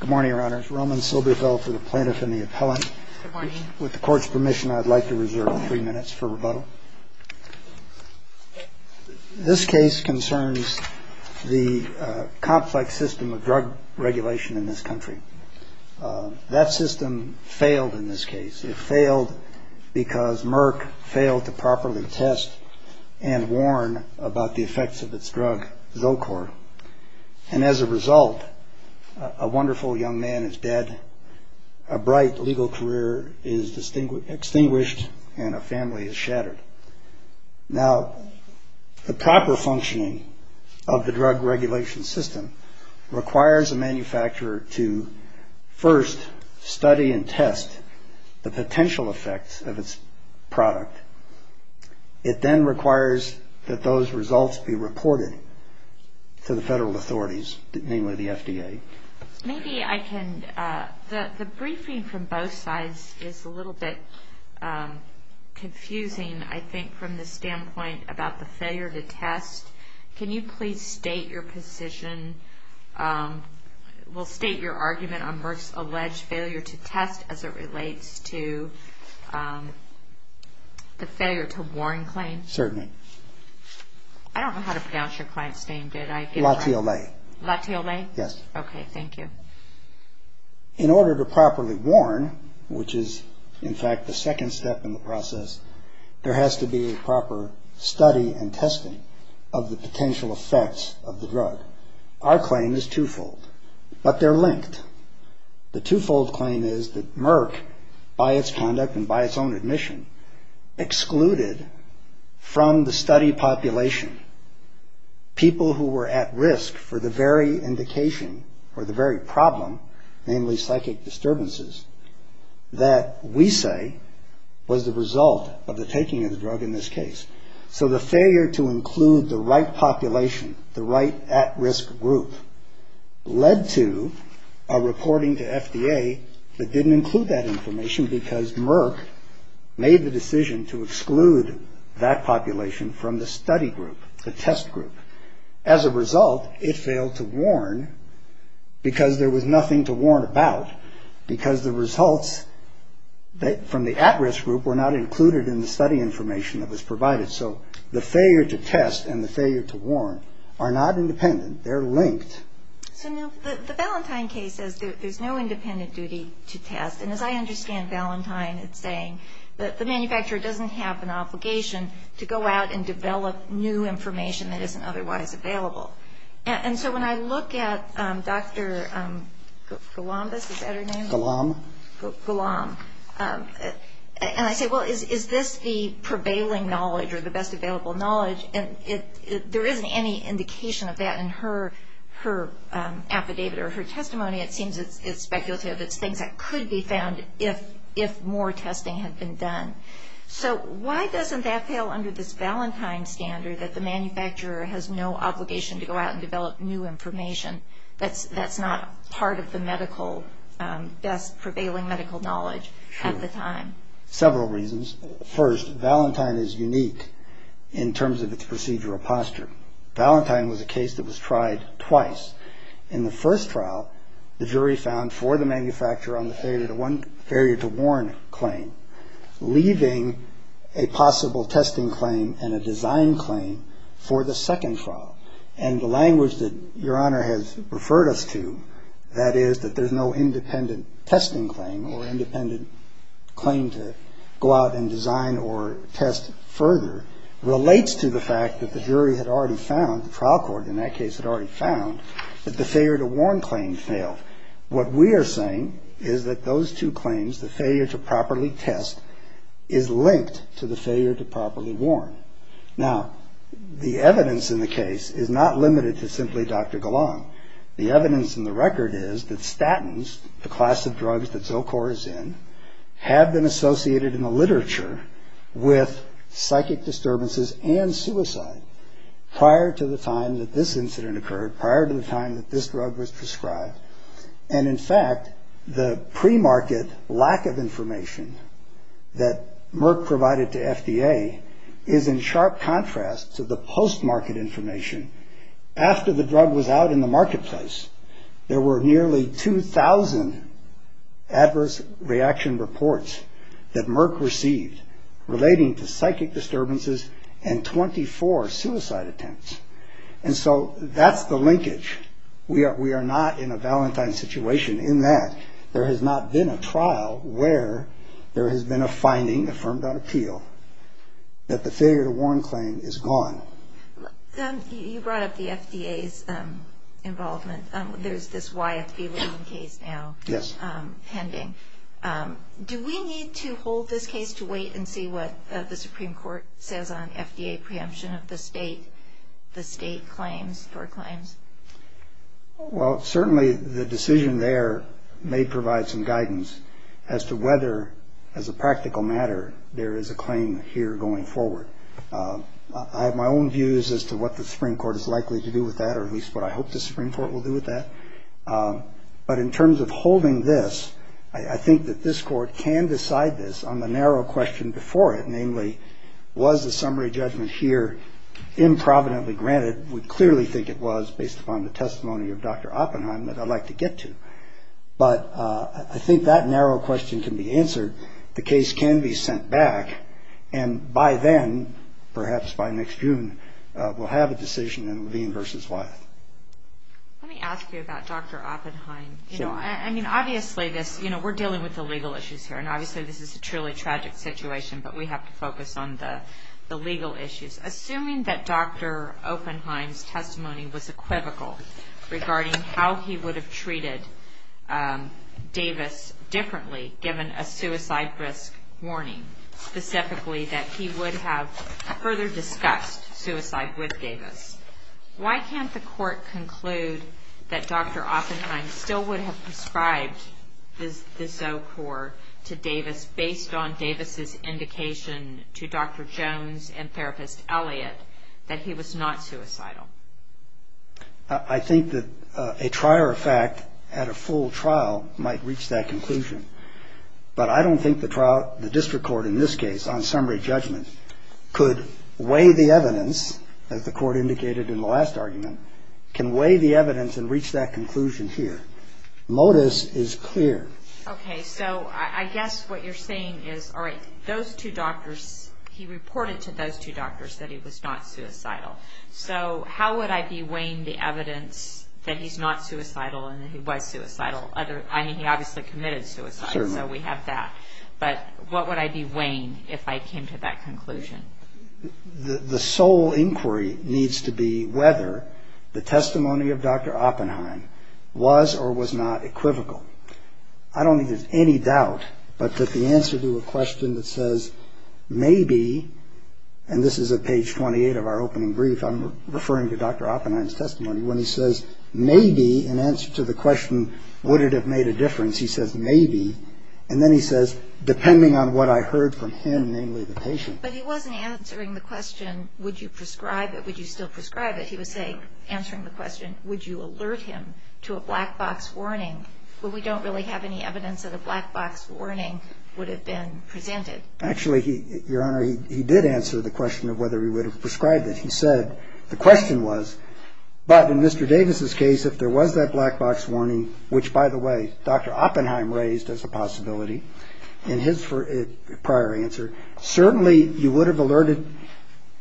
Good morning, Your Honors. Roman Silberfeld for the Plaintiff and the Appellant. With the Court's permission, I'd like to reserve three minutes for rebuttal. This case concerns the complex system of drug regulation in this country. That system failed in this case. It failed because Merck failed to properly test and warn about the effects of its drug, Zocor. And as a result, a wonderful young man is dead, a bright legal career is extinguished, and a family is shattered. Now, the proper functioning of the drug regulation system requires a manufacturer to first study and test the potential effects of its product. It then requires that those results be reported to the federal authorities, namely the FDA. Maybe I can – the briefing from both sides is a little bit confusing, I think, from the standpoint about the failure to test. Can you please state your position – well, state your argument on Merck's alleged failure to test as it relates to the failure to warn claim? Certainly. I don't know how to pronounce your client's name, did I? Latiolais. Latiolais? Yes. Okay, thank you. In order to properly warn, which is, in fact, the second step in the process, there has to be a proper study and testing of the potential effects of the drug. Our claim is twofold, but they're linked. The twofold claim is that Merck, by its conduct and by its own admission, excluded from the study population people who were at risk for the very indication or the very problem, namely psychic disturbances, that we say was the result of the taking of the drug in this case. So the failure to include the right population, the right at-risk group, led to a reporting to FDA that didn't include that information because Merck made the decision to exclude that population from the study group, the test group. As a result, it failed to warn because there was nothing to warn about because the results from the at-risk group were not included in the study information that was provided. So the failure to test and the failure to warn are not independent. They're linked. So now the Valentine case says there's no independent duty to test. And as I understand Valentine, it's saying that the manufacturer doesn't have an obligation to go out and develop new information that isn't otherwise available. And so when I look at Dr. Golombis, is that her name? Golomb. Golomb. And I say, well, is this the prevailing knowledge or the best available knowledge? And there isn't any indication of that in her affidavit or her testimony. It seems it's speculative. It's things that could be found if more testing had been done. So why doesn't that fail under this Valentine standard that the manufacturer has no obligation to go out and develop new information that's not part of the best prevailing medical knowledge at the time? Several reasons. First, Valentine is unique in terms of its procedural posture. Valentine was a case that was tried twice. In the first trial, the jury found for the manufacturer on the failure to warn claim, leaving a possible testing claim and a design claim for the second trial. And the language that Your Honor has referred us to, that is that there's no independent testing claim or independent claim to go out and design or test further, relates to the fact that the jury had already found, the trial court in that case had already found, that the failure to warn claim failed. What we are saying is that those two claims, the failure to properly test, is linked to the failure to properly warn. Now, the evidence in the case is not limited to simply Dr. Golomb. The evidence in the record is that statins, the class of drugs that Zocor is in, have been associated in the literature with psychic disturbances and suicide prior to the time that this incident occurred, prior to the time that this drug was prescribed. And in fact, the pre-market lack of information that Merck provided to FDA is in sharp contrast to the post-market information. After the drug was out in the marketplace, there were nearly 2,000 adverse reaction reports that Merck received relating to psychic disturbances and 24 suicide attempts. And so that's the linkage. We are not in a Valentine situation in that there has not been a trial where there has been a finding affirmed on appeal that the failure to warn claim is gone. You brought up the FDA's involvement. There's this YFB case now pending. Do we need to hold this case to wait and see what the Supreme Court says on FDA preemption of the state, the state claims, for claims? Well, certainly the decision there may provide some guidance as to whether, as a practical matter, there is a claim here going forward. I have my own views as to what the Supreme Court is likely to do with that, or at least what I hope the Supreme Court will do with that. But in terms of holding this, I think that this Court can decide this on the narrow question before it, namely, was the summary judgment here improvidently granted? We clearly think it was, based upon the testimony of Dr. Oppenheim, that I'd like to get to. But I think that narrow question can be answered. The case can be sent back. And by then, perhaps by next June, we'll have a decision in Levine v. Wyeth. Let me ask you about Dr. Oppenheim. Sure. I mean, obviously this, you know, we're dealing with the legal issues here, and obviously this is a truly tragic situation, but we have to focus on the legal issues. Assuming that Dr. Oppenheim's testimony was equivocal regarding how he would have treated Davis differently, given a suicide risk warning, specifically that he would have further discussed suicide with Davis, why can't the Court conclude that Dr. Oppenheim still would have prescribed the Zocor to Davis, based on Davis's indication to Dr. Jones and Therapist Elliott that he was not suicidal? I think that a trier of fact at a full trial might reach that conclusion. But I don't think the district court in this case, on summary judgment, could weigh the evidence, as the Court indicated in the last argument, can weigh the evidence and reach that conclusion here. Modus is clear. Okay. So I guess what you're saying is, all right, those two doctors, he reported to those two doctors that he was not suicidal. So how would I be weighing the evidence that he's not suicidal and that he was suicidal? I mean, he obviously committed suicide, so we have that. But what would I be weighing if I came to that conclusion? The sole inquiry needs to be whether the testimony of Dr. Oppenheim was or was not equivocal. I don't think there's any doubt but that the answer to a question that says, and this is at page 28 of our opening brief, I'm referring to Dr. Oppenheim's testimony, when he says, maybe, in answer to the question, would it have made a difference, he says, maybe. And then he says, depending on what I heard from him, namely the patient. But he wasn't answering the question, would you prescribe it, would you still prescribe it? He was answering the question, would you alert him to a black box warning? But we don't really have any evidence that a black box warning would have been presented. Actually, Your Honor, he did answer the question of whether he would have prescribed it. He said the question was, but in Mr. Davis's case, if there was that black box warning, which, by the way, Dr. Oppenheim raised as a possibility in his prior answer, certainly you would have alerted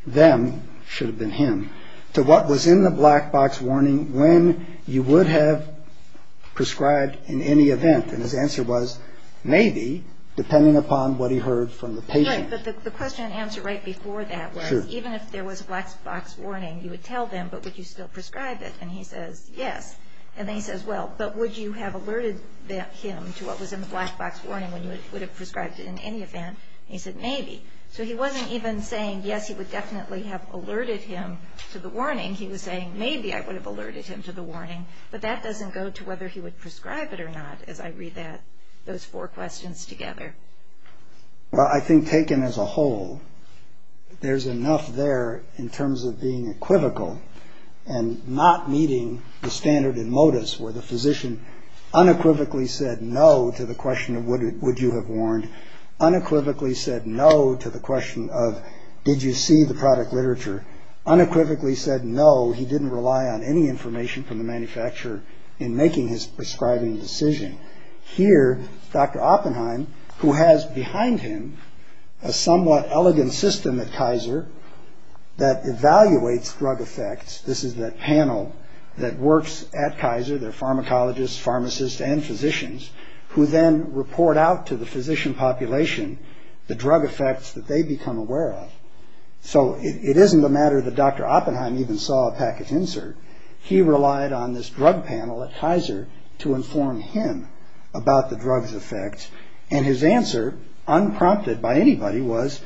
them, should have been him, to what was in the black box warning when you would have prescribed in any event. And his answer was, maybe, depending upon what he heard from the patient. Right, but the question and answer right before that was, even if there was a black box warning, you would tell them, but would you still prescribe it? And he says, yes. And then he says, well, but would you have alerted him to what was in the black box warning when you would have prescribed it in any event? And he said, maybe. So he wasn't even saying, yes, he would definitely have alerted him to the warning. He was saying, maybe I would have alerted him to the warning, but that doesn't go to whether he would prescribe it or not, as I read those four questions together. Well, I think taken as a whole, there's enough there in terms of being equivocal and not meeting the standard and modus where the physician unequivocally said no to the question of would you have warned, unequivocally said no to the question of did you see the product literature, unequivocally said no, he didn't rely on any information from the manufacturer in making his prescribing decision. Here, Dr. Oppenheim, who has behind him a somewhat elegant system at Kaiser that evaluates drug effects, this is that panel that works at Kaiser, they're pharmacologists, pharmacists, and physicians, who then report out to the physician population the drug effects that they become aware of. So it isn't a matter that Dr. Oppenheim even saw a package insert. He relied on this drug panel at Kaiser to inform him about the drug's effects. And his answer, unprompted by anybody, was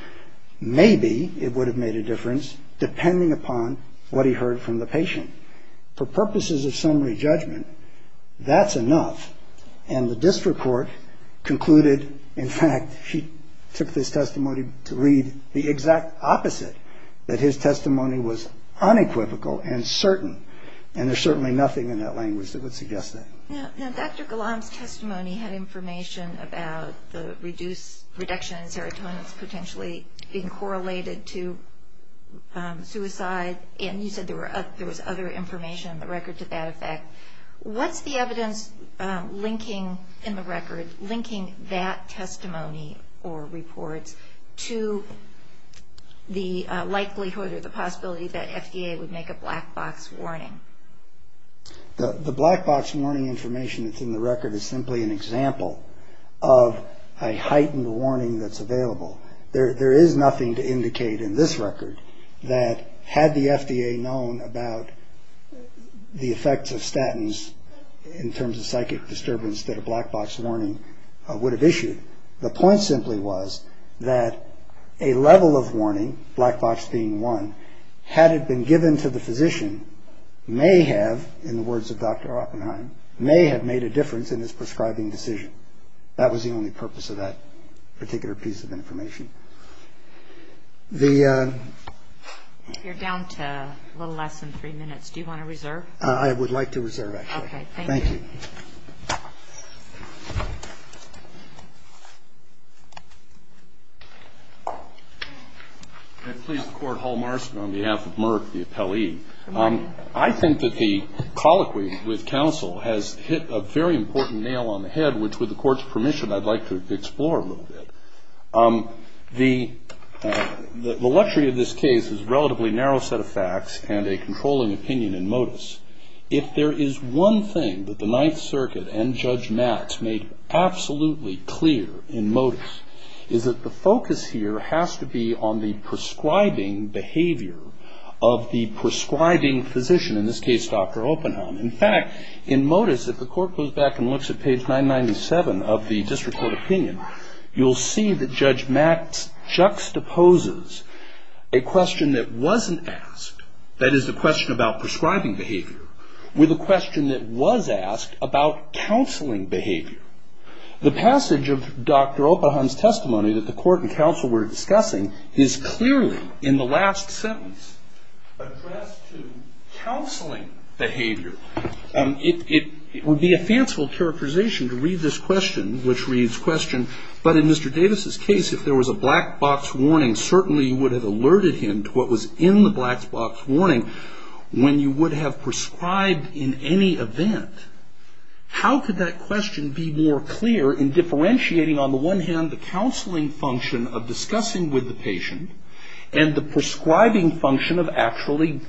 maybe it would have made a difference, depending upon what he heard from the patient. For purposes of summary judgment, that's enough. And the district court concluded, in fact, he took this testimony to read the exact opposite, that his testimony was unequivocal and certain, and there's certainly nothing in that language that would suggest that. Now, Dr. Gallam's testimony had information about the reduction in serotonin potentially being correlated to suicide, and you said there was other information in the record to that effect. What's the evidence linking in the record, linking that testimony or report to the likelihood or the possibility that FDA would make a black box warning? The black box warning information that's in the record is simply an example of a heightened warning that's available. There is nothing to indicate in this record that had the FDA known about the effects of statins in terms of psychic disturbance that a black box warning would have issued. The point simply was that a level of warning, black box being one, had it been given to the physician, may have, in the words of Dr. Oppenheim, may have made a difference in his prescribing decision. That was the only purpose of that particular piece of information. You're down to a little less than three minutes. Do you want to reserve? I would like to reserve, actually. Okay, thank you. Thank you. May it please the Court, Hall Marston on behalf of Merck, the appellee. I think that the colloquy with counsel has hit a very important nail on the head, which, with the Court's permission, I'd like to explore a little bit. The luxury of this case is a relatively narrow set of facts and a controlling opinion in modus. If there is one thing that the Ninth Circuit and Judge Matz made absolutely clear in modus, is that the focus here has to be on the prescribing behavior of the prescribing physician, in this case Dr. Oppenheim. In fact, in modus, if the Court goes back and looks at page 997 of the district court opinion, you'll see that Judge Matz juxtaposes a question that wasn't asked, that is the question about prescribing behavior, with a question that was asked about counseling behavior. The passage of Dr. Oppenheim's testimony that the Court and counsel were discussing is clearly, in the last sentence, addressed to counseling behavior. It would be a fanciful characterization to read this question, which reads, question, but in Mr. Davis's case, if there was a black box warning, certainly you would have alerted him to what was in the black box warning, when you would have prescribed in any event. How could that question be more clear in differentiating, on the one hand, the counseling function of discussing with the patient, and the prescribing function of actually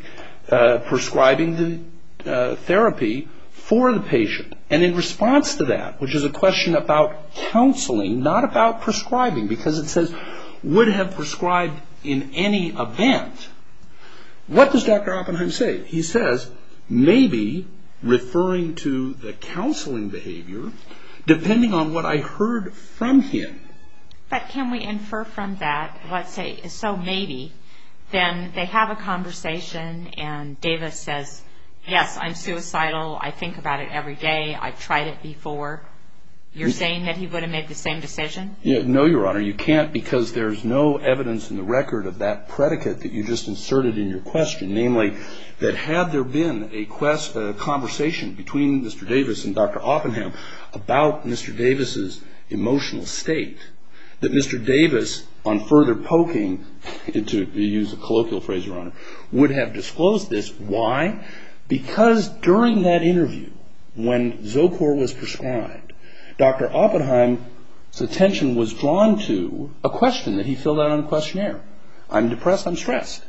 prescribing the therapy for the patient? And in response to that, which is a question about counseling, not about prescribing, because it says, would have prescribed in any event, what does Dr. Oppenheim say? He says, maybe, referring to the counseling behavior, depending on what I heard from him. But can we infer from that, let's say, so maybe, then they have a conversation, and Davis says, yes, I'm suicidal, I think about it every day, I've tried it before. You're saying that he would have made the same decision? No, Your Honor, you can't, because there's no evidence in the record of that predicate that you just inserted in your question, namely, that had there been a conversation between Mr. Davis and Dr. Oppenheim about Mr. Davis' emotional state, that Mr. Davis, on further poking, to use a colloquial phrase, Your Honor, would have disclosed this. Why? Because during that interview, when Zocor was prescribed, Dr. Oppenheim's attention was drawn to a question that he filled out on the questionnaire. I'm depressed, I'm stressed.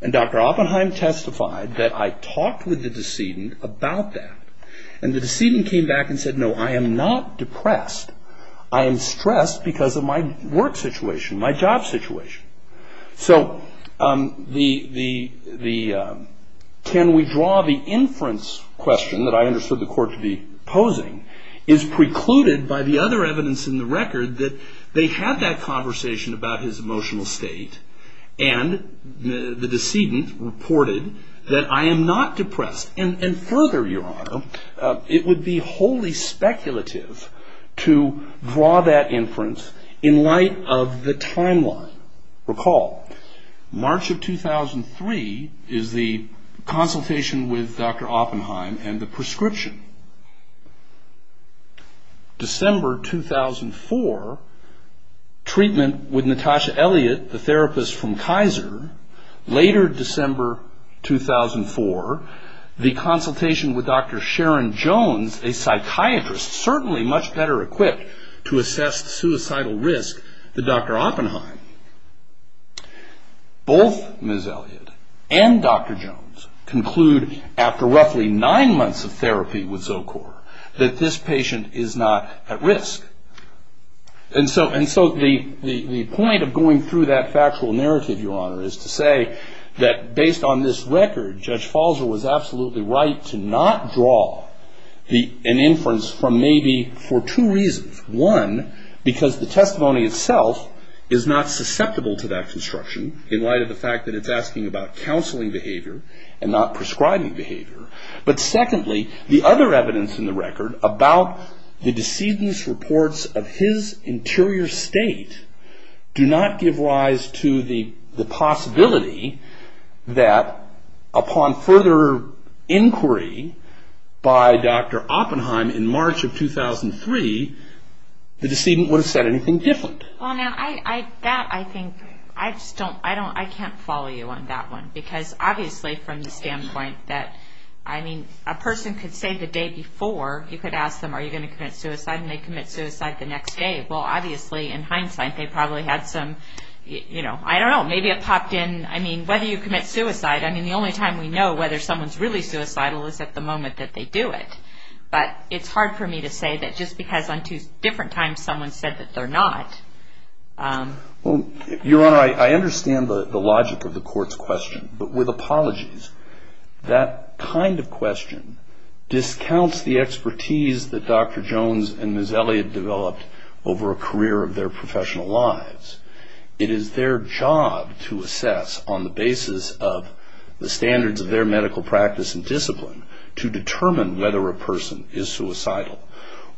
And Dr. Oppenheim testified that I talked with the decedent about that. And the decedent came back and said, no, I am not depressed, I am stressed because of my work situation, my job situation. So can we draw the inference question that I understood the court to be posing is precluded by the other evidence in the record that they had that conversation about his emotional state, and the decedent reported that I am not depressed. And further, Your Honor, it would be wholly speculative to draw that inference in light of the timeline. Recall, March of 2003 is the consultation with Dr. Oppenheim and the prescription. December 2004, treatment with Natasha Elliott, the therapist from Kaiser. Later December 2004, the consultation with Dr. Sharon Jones, a psychiatrist certainly much better equipped to assess the suicidal risk than Dr. Oppenheim. Both Ms. Elliott and Dr. Jones conclude after roughly nine months of therapy with Zocor that this patient is not at risk. And so the point of going through that factual narrative, Your Honor, is to say that based on this record, Judge Falzer was absolutely right to not draw an inference from maybe for two reasons. One, because the testimony itself is not susceptible to that construction in light of the fact that it's asking about counseling behavior and not prescribing behavior. But secondly, the other evidence in the record about the decedent's reports of his interior state do not give rise to the possibility that upon further inquiry by Dr. Oppenheim in March of 2003, the decedent would have said anything different. Well, now, that I think, I just don't, I can't follow you on that one. Because obviously from the standpoint that, I mean, a person could say the day before, you could ask them, are you going to commit suicide? And they'd commit suicide the next day. Well, obviously in hindsight they probably had some, you know, I don't know, maybe it popped in, I mean, whether you commit suicide, I mean, the only time we know whether someone's really suicidal is at the moment that they do it. But it's hard for me to say that just because on two different times someone said that they're not. Well, Your Honor, I understand the logic of the court's question. But with apologies, that kind of question discounts the expertise that Dr. Jones and Ms. Elliott developed over a career of their professional lives. It is their job to assess on the basis of the standards of their medical practice and discipline to determine whether a person is suicidal.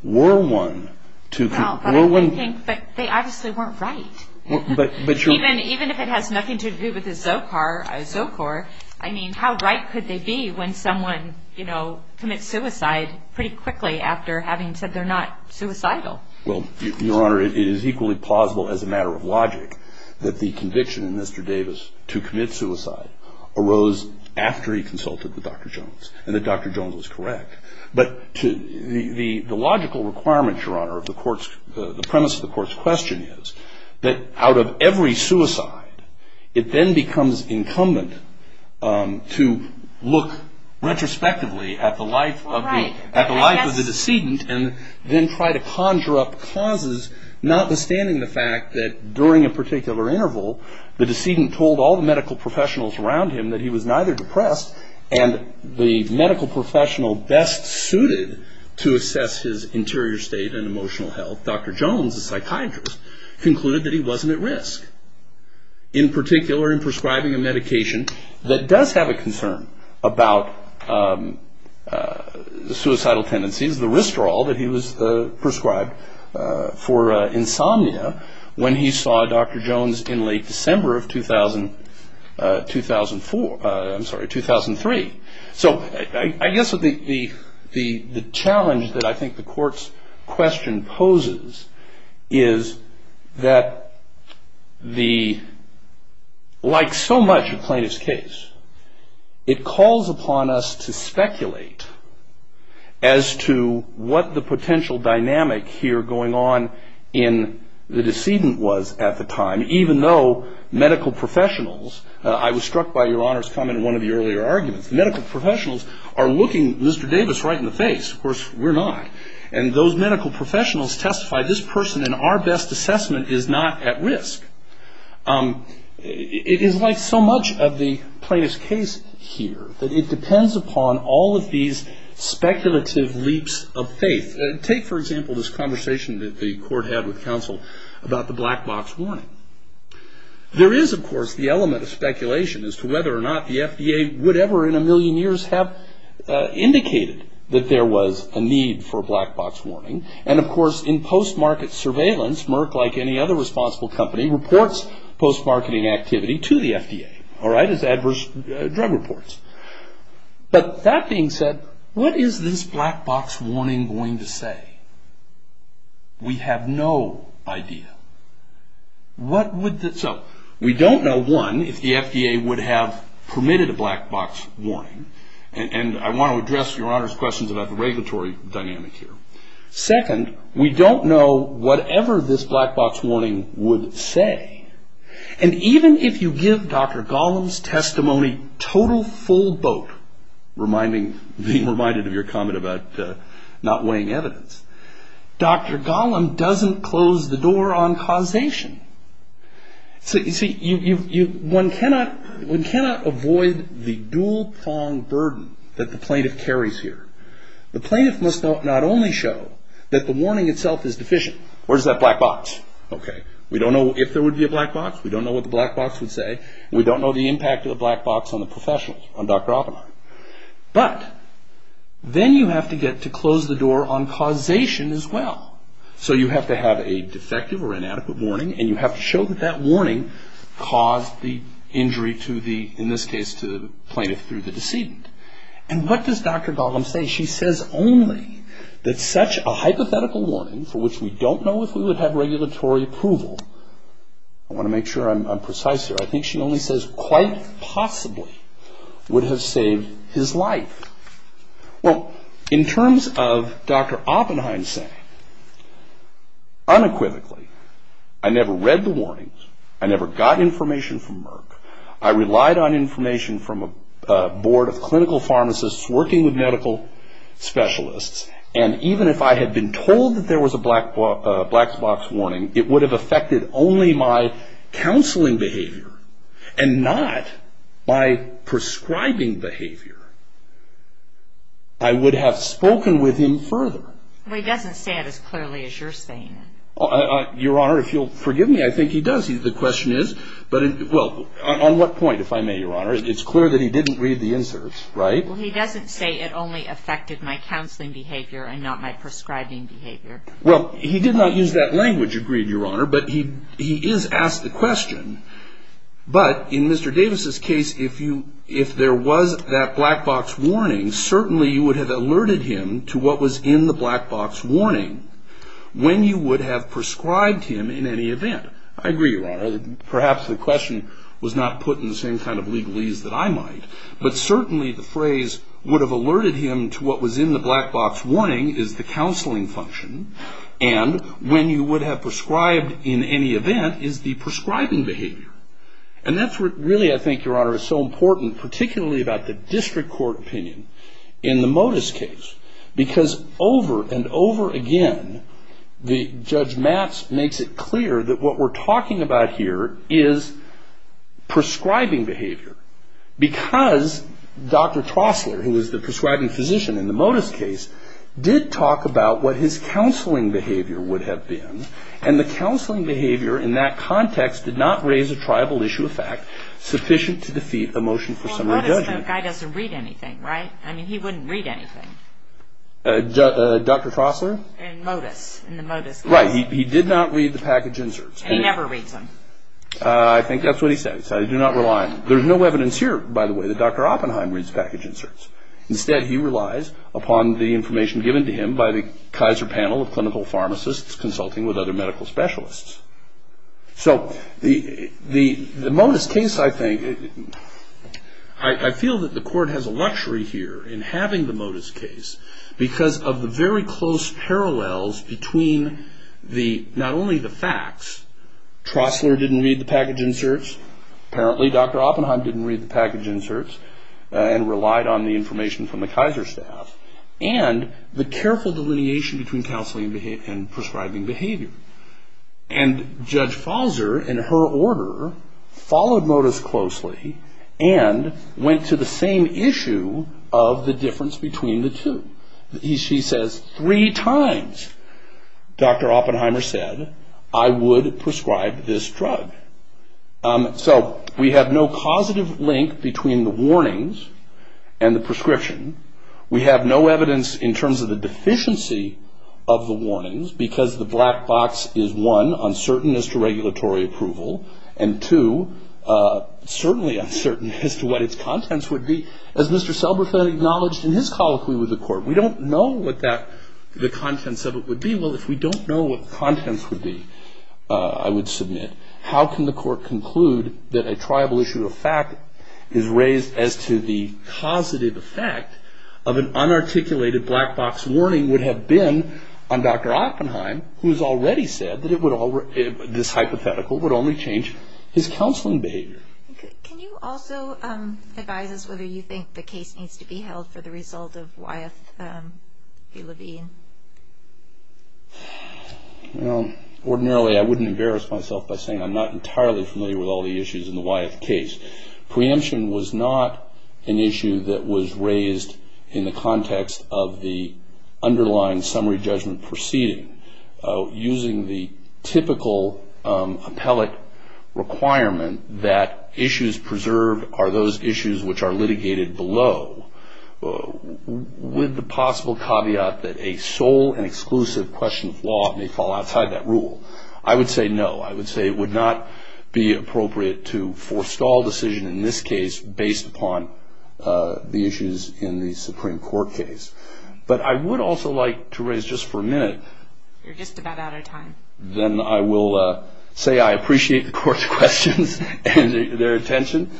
Were one to, were one... Well, I think, but they obviously weren't right. But, but you're... Even, even if it has nothing to do with the ZOCAR, ZOCOR, I mean, how right could they be when someone, you know, commits suicide pretty quickly after having said they're not suicidal? Well, Your Honor, it is equally plausible as a matter of logic that the conviction in Mr. Davis to commit suicide arose after he consulted with Dr. Jones and that Dr. Jones was correct. But the logical requirement, Your Honor, of the court's, the premise of the court's question is that out of every suicide, it then becomes incumbent to look retrospectively at the life of the... Right. And then try to conjure up causes, notwithstanding the fact that during a particular interval, the decedent told all the medical professionals around him that he was neither depressed and the medical professional best suited to assess his interior state and emotional health, Dr. Jones, a psychiatrist, concluded that he wasn't at risk. In particular, in prescribing a medication that does have a concern about suicidal tendencies, the Restorol that he was prescribed for insomnia when he saw Dr. Jones in late December of 2000...2004. I'm sorry, 2003. So I guess the challenge that I think the court's question poses is that the... to what the potential dynamic here going on in the decedent was at the time, even though medical professionals... I was struck by Your Honor's comment in one of the earlier arguments. The medical professionals are looking Mr. Davis right in the face. Of course, we're not. And those medical professionals testify this person in our best assessment is not at risk. It is like so much of the plaintiff's case here that it depends upon all of these speculative leaps of faith. Take, for example, this conversation that the court had with counsel about the black box warning. There is, of course, the element of speculation as to whether or not the FDA would ever in a million years have indicated that there was a need for a black box warning. And, of course, in post-market surveillance, Merck, like any other responsible company, reports post-marketing activity to the FDA as adverse drug reports. But that being said, what is this black box warning going to say? We have no idea. What would the... So we don't know, one, if the FDA would have permitted a black box warning. And I want to address Your Honor's questions about the regulatory dynamic here. Second, we don't know whatever this black box warning would say. And even if you give Dr. Gollum's testimony total full boat, being reminded of your comment about not weighing evidence, Dr. Gollum doesn't close the door on causation. So, you see, one cannot avoid the dual-pronged burden that the plaintiff carries here. The plaintiff must not only show that the warning itself is deficient. Where's that black box? Okay. We don't know if there would be a black box. We don't know what the black box would say. We don't know the impact of the black box on the professionals, on Dr. Oppenheimer. But then you have to get to close the door on causation as well. So you have to have a defective or inadequate warning, and you have to show that that warning caused the injury to the, in this case, to the plaintiff through the decedent. And what does Dr. Gollum say? She says only that such a hypothetical warning, for which we don't know if we would have regulatory approval. I want to make sure I'm precise here. I think she only says, quite possibly, would have saved his life. Well, in terms of Dr. Oppenheim saying, unequivocally, I never read the warnings. I never got information from Merck. I relied on information from a board of clinical pharmacists working with medical specialists. And even if I had been told that there was a black box warning, it would have affected only my counseling behavior, and not my prescribing behavior. I would have spoken with him further. Well, he doesn't say it as clearly as you're saying it. Your Honor, if you'll forgive me, I think he does. The question is, well, on what point, if I may, Your Honor, it's clear that he didn't read the inserts, right? Well, he doesn't say it only affected my counseling behavior and not my prescribing behavior. Well, he did not use that language, agreed, Your Honor, but he is asked the question. But in Mr. Davis' case, if there was that black box warning, certainly you would have alerted him to what was in the black box warning when you would have prescribed him in any event. I agree, Your Honor. Perhaps the question was not put in the same kind of legalese that I might, but certainly the phrase would have alerted him to what was in the black box warning is the counseling function, and when you would have prescribed in any event is the prescribing behavior. And that's really, I think, Your Honor, is so important, particularly about the district court opinion in the Motus case, because over and over again, Judge Matz makes it clear that what we're talking about here is prescribing behavior, because Dr. Trostler, who was the prescribing physician in the Motus case, did talk about what his counseling behavior would have been, and the counseling behavior in that context did not raise a tribal issue of fact sufficient to defeat a motion for summary judgment. Well, Motus, that guy doesn't read anything, right? I mean, he wouldn't read anything. Dr. Trostler? In Motus, in the Motus case. Right, he did not read the package inserts. And he never reads them. I think that's what he said. I do not rely on him. There's no evidence here, by the way, that Dr. Oppenheim reads package inserts. Instead, he relies upon the information given to him by the Kaiser Panel of Clinical Pharmacists consulting with other medical specialists. So the Motus case, I think, I feel that the court has a luxury here in having the Motus case Trostler didn't read the package inserts. Apparently, Dr. Oppenheim didn't read the package inserts and relied on the information from the Kaiser staff and the careful delineation between counseling and prescribing behavior. And Judge Fauser, in her order, followed Motus closely and went to the same issue of the difference between the two. She says, three times, Dr. Oppenheimer said, I would prescribe this drug. So we have no positive link between the warnings and the prescription. We have no evidence in terms of the deficiency of the warnings because the black box is, one, uncertain as to regulatory approval, and, two, certainly uncertain as to what its contents would be. As Mr. Selberfan acknowledged in his colloquy with the court, we don't know what the contents of it would be. Well, if we don't know what the contents would be, I would submit, how can the court conclude that a tribal issue of fact is raised as to the causative effect of an unarticulated black box warning would have been on Dr. Oppenheim, who has already said that this hypothetical would only change his counseling behavior. Can you also advise us whether you think the case needs to be held for the result of Wyeth v. Levine? Well, ordinarily I wouldn't embarrass myself by saying I'm not entirely familiar with all the issues in the Wyeth case. Preemption was not an issue that was raised in the context of the underlying summary judgment proceeding. Using the typical appellate requirement that issues preserved are those issues which are litigated below, with the possible caveat that a sole and exclusive question of law may fall outside that rule, I would say no. I would say it would not be appropriate to forestall a decision in this case based upon the issues in the Supreme Court case. But I would also like to raise just for a minute. You're just about out of time. Then I will say I appreciate the court's questions and their attention.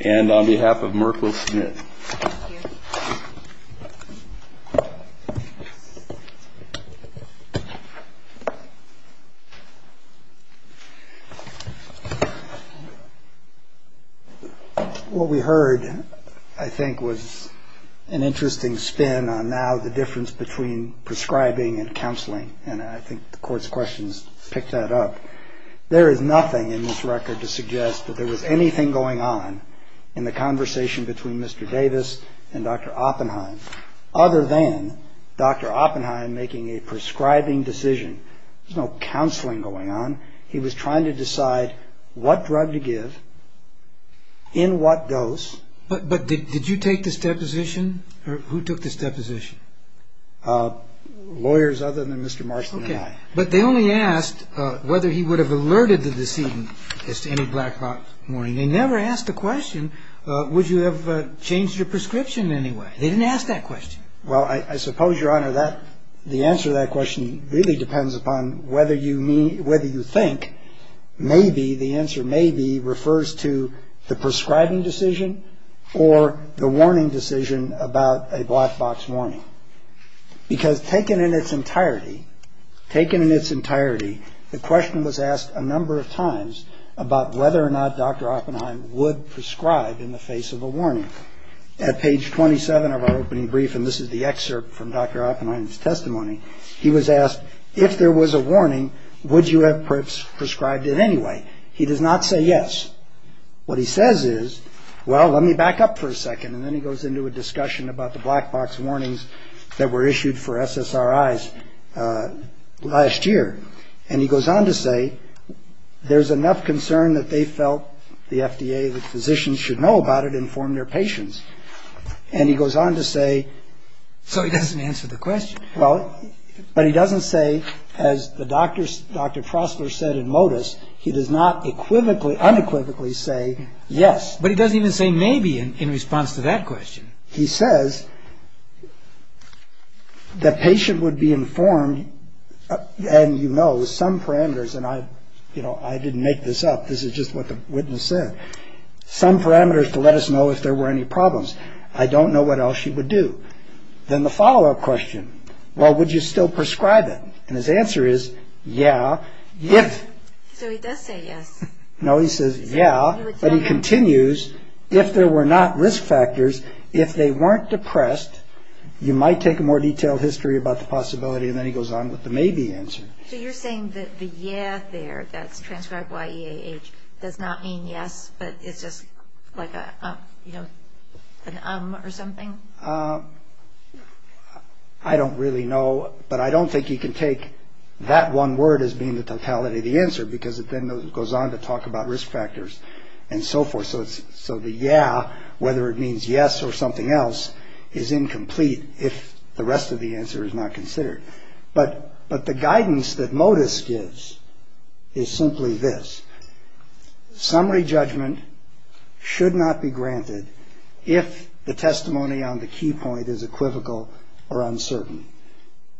And on behalf of Merkel Smith. Thank you. What we heard, I think, was an interesting spin on now the difference between prescribing and counseling. And I think the court's questions picked that up. There is nothing in this record to suggest that there was anything going on in the conversation between Mr. Davis and Dr. Oppenheim, other than Dr. Oppenheim making a prescribing decision. There's no counseling going on. He was trying to decide what drug to give, in what dose. But did you take this deposition? Who took this deposition? Lawyers other than Mr. Marston and I. But they only asked whether he would have alerted the decedent as to any black box warning. They never asked the question, would you have changed your prescription anyway? They didn't ask that question. Well, I suppose, Your Honor, that the answer to that question really depends upon whether you think maybe, the answer maybe refers to the prescribing decision or the warning decision about a black box warning. Because taken in its entirety, taken in its entirety, the question was asked a number of times about whether or not Dr. Oppenheim would prescribe in the face of a warning. At page 27 of our opening brief, and this is the excerpt from Dr. Oppenheim's testimony, he was asked if there was a warning, would you have prescribed it anyway? He does not say yes. What he says is, well, let me back up for a second. And then he goes into a discussion about the black box warnings that were issued for SSRIs last year. And he goes on to say, there's enough concern that they felt the FDA, the physicians should know about it and inform their patients. And he goes on to say. So he doesn't answer the question. Well, but he doesn't say, as Dr. Prossler said in modus, he does not unequivocally say yes. But he doesn't even say maybe in response to that question. He says the patient would be informed. And, you know, some parameters. And I, you know, I didn't make this up. This is just what the witness said. Some parameters to let us know if there were any problems. I don't know what else she would do. Then the follow up question. Well, would you still prescribe it? And his answer is, yeah, if. So he does say yes. No, he says, yeah. But he continues, if there were not risk factors, if they weren't depressed, you might take a more detailed history about the possibility. And then he goes on with the maybe answer. So you're saying that the yeah there, that's transcribed Y-E-A-H, does not mean yes, but it's just like a, you know, an um or something? I don't really know. But I don't think you can take that one word as being the totality of the answer, because it then goes on to talk about risk factors and so forth. So the yeah, whether it means yes or something else, is incomplete if the rest of the answer is not considered. But the guidance that MODIS gives is simply this. Summary judgment should not be granted if the testimony on the key point is equivocal or uncertain.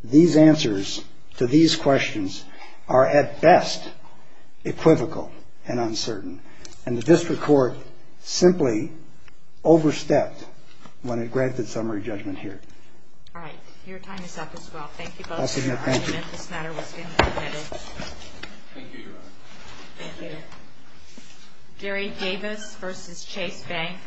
These answers to these questions are at best equivocal and uncertain. And the district court simply overstepped when it granted summary judgment here. All right. Your time is up as well. Thank you both. Thank you. This matter was being submitted. Thank you, Your Honor. Thank you. Gary Davis versus Chase Bank.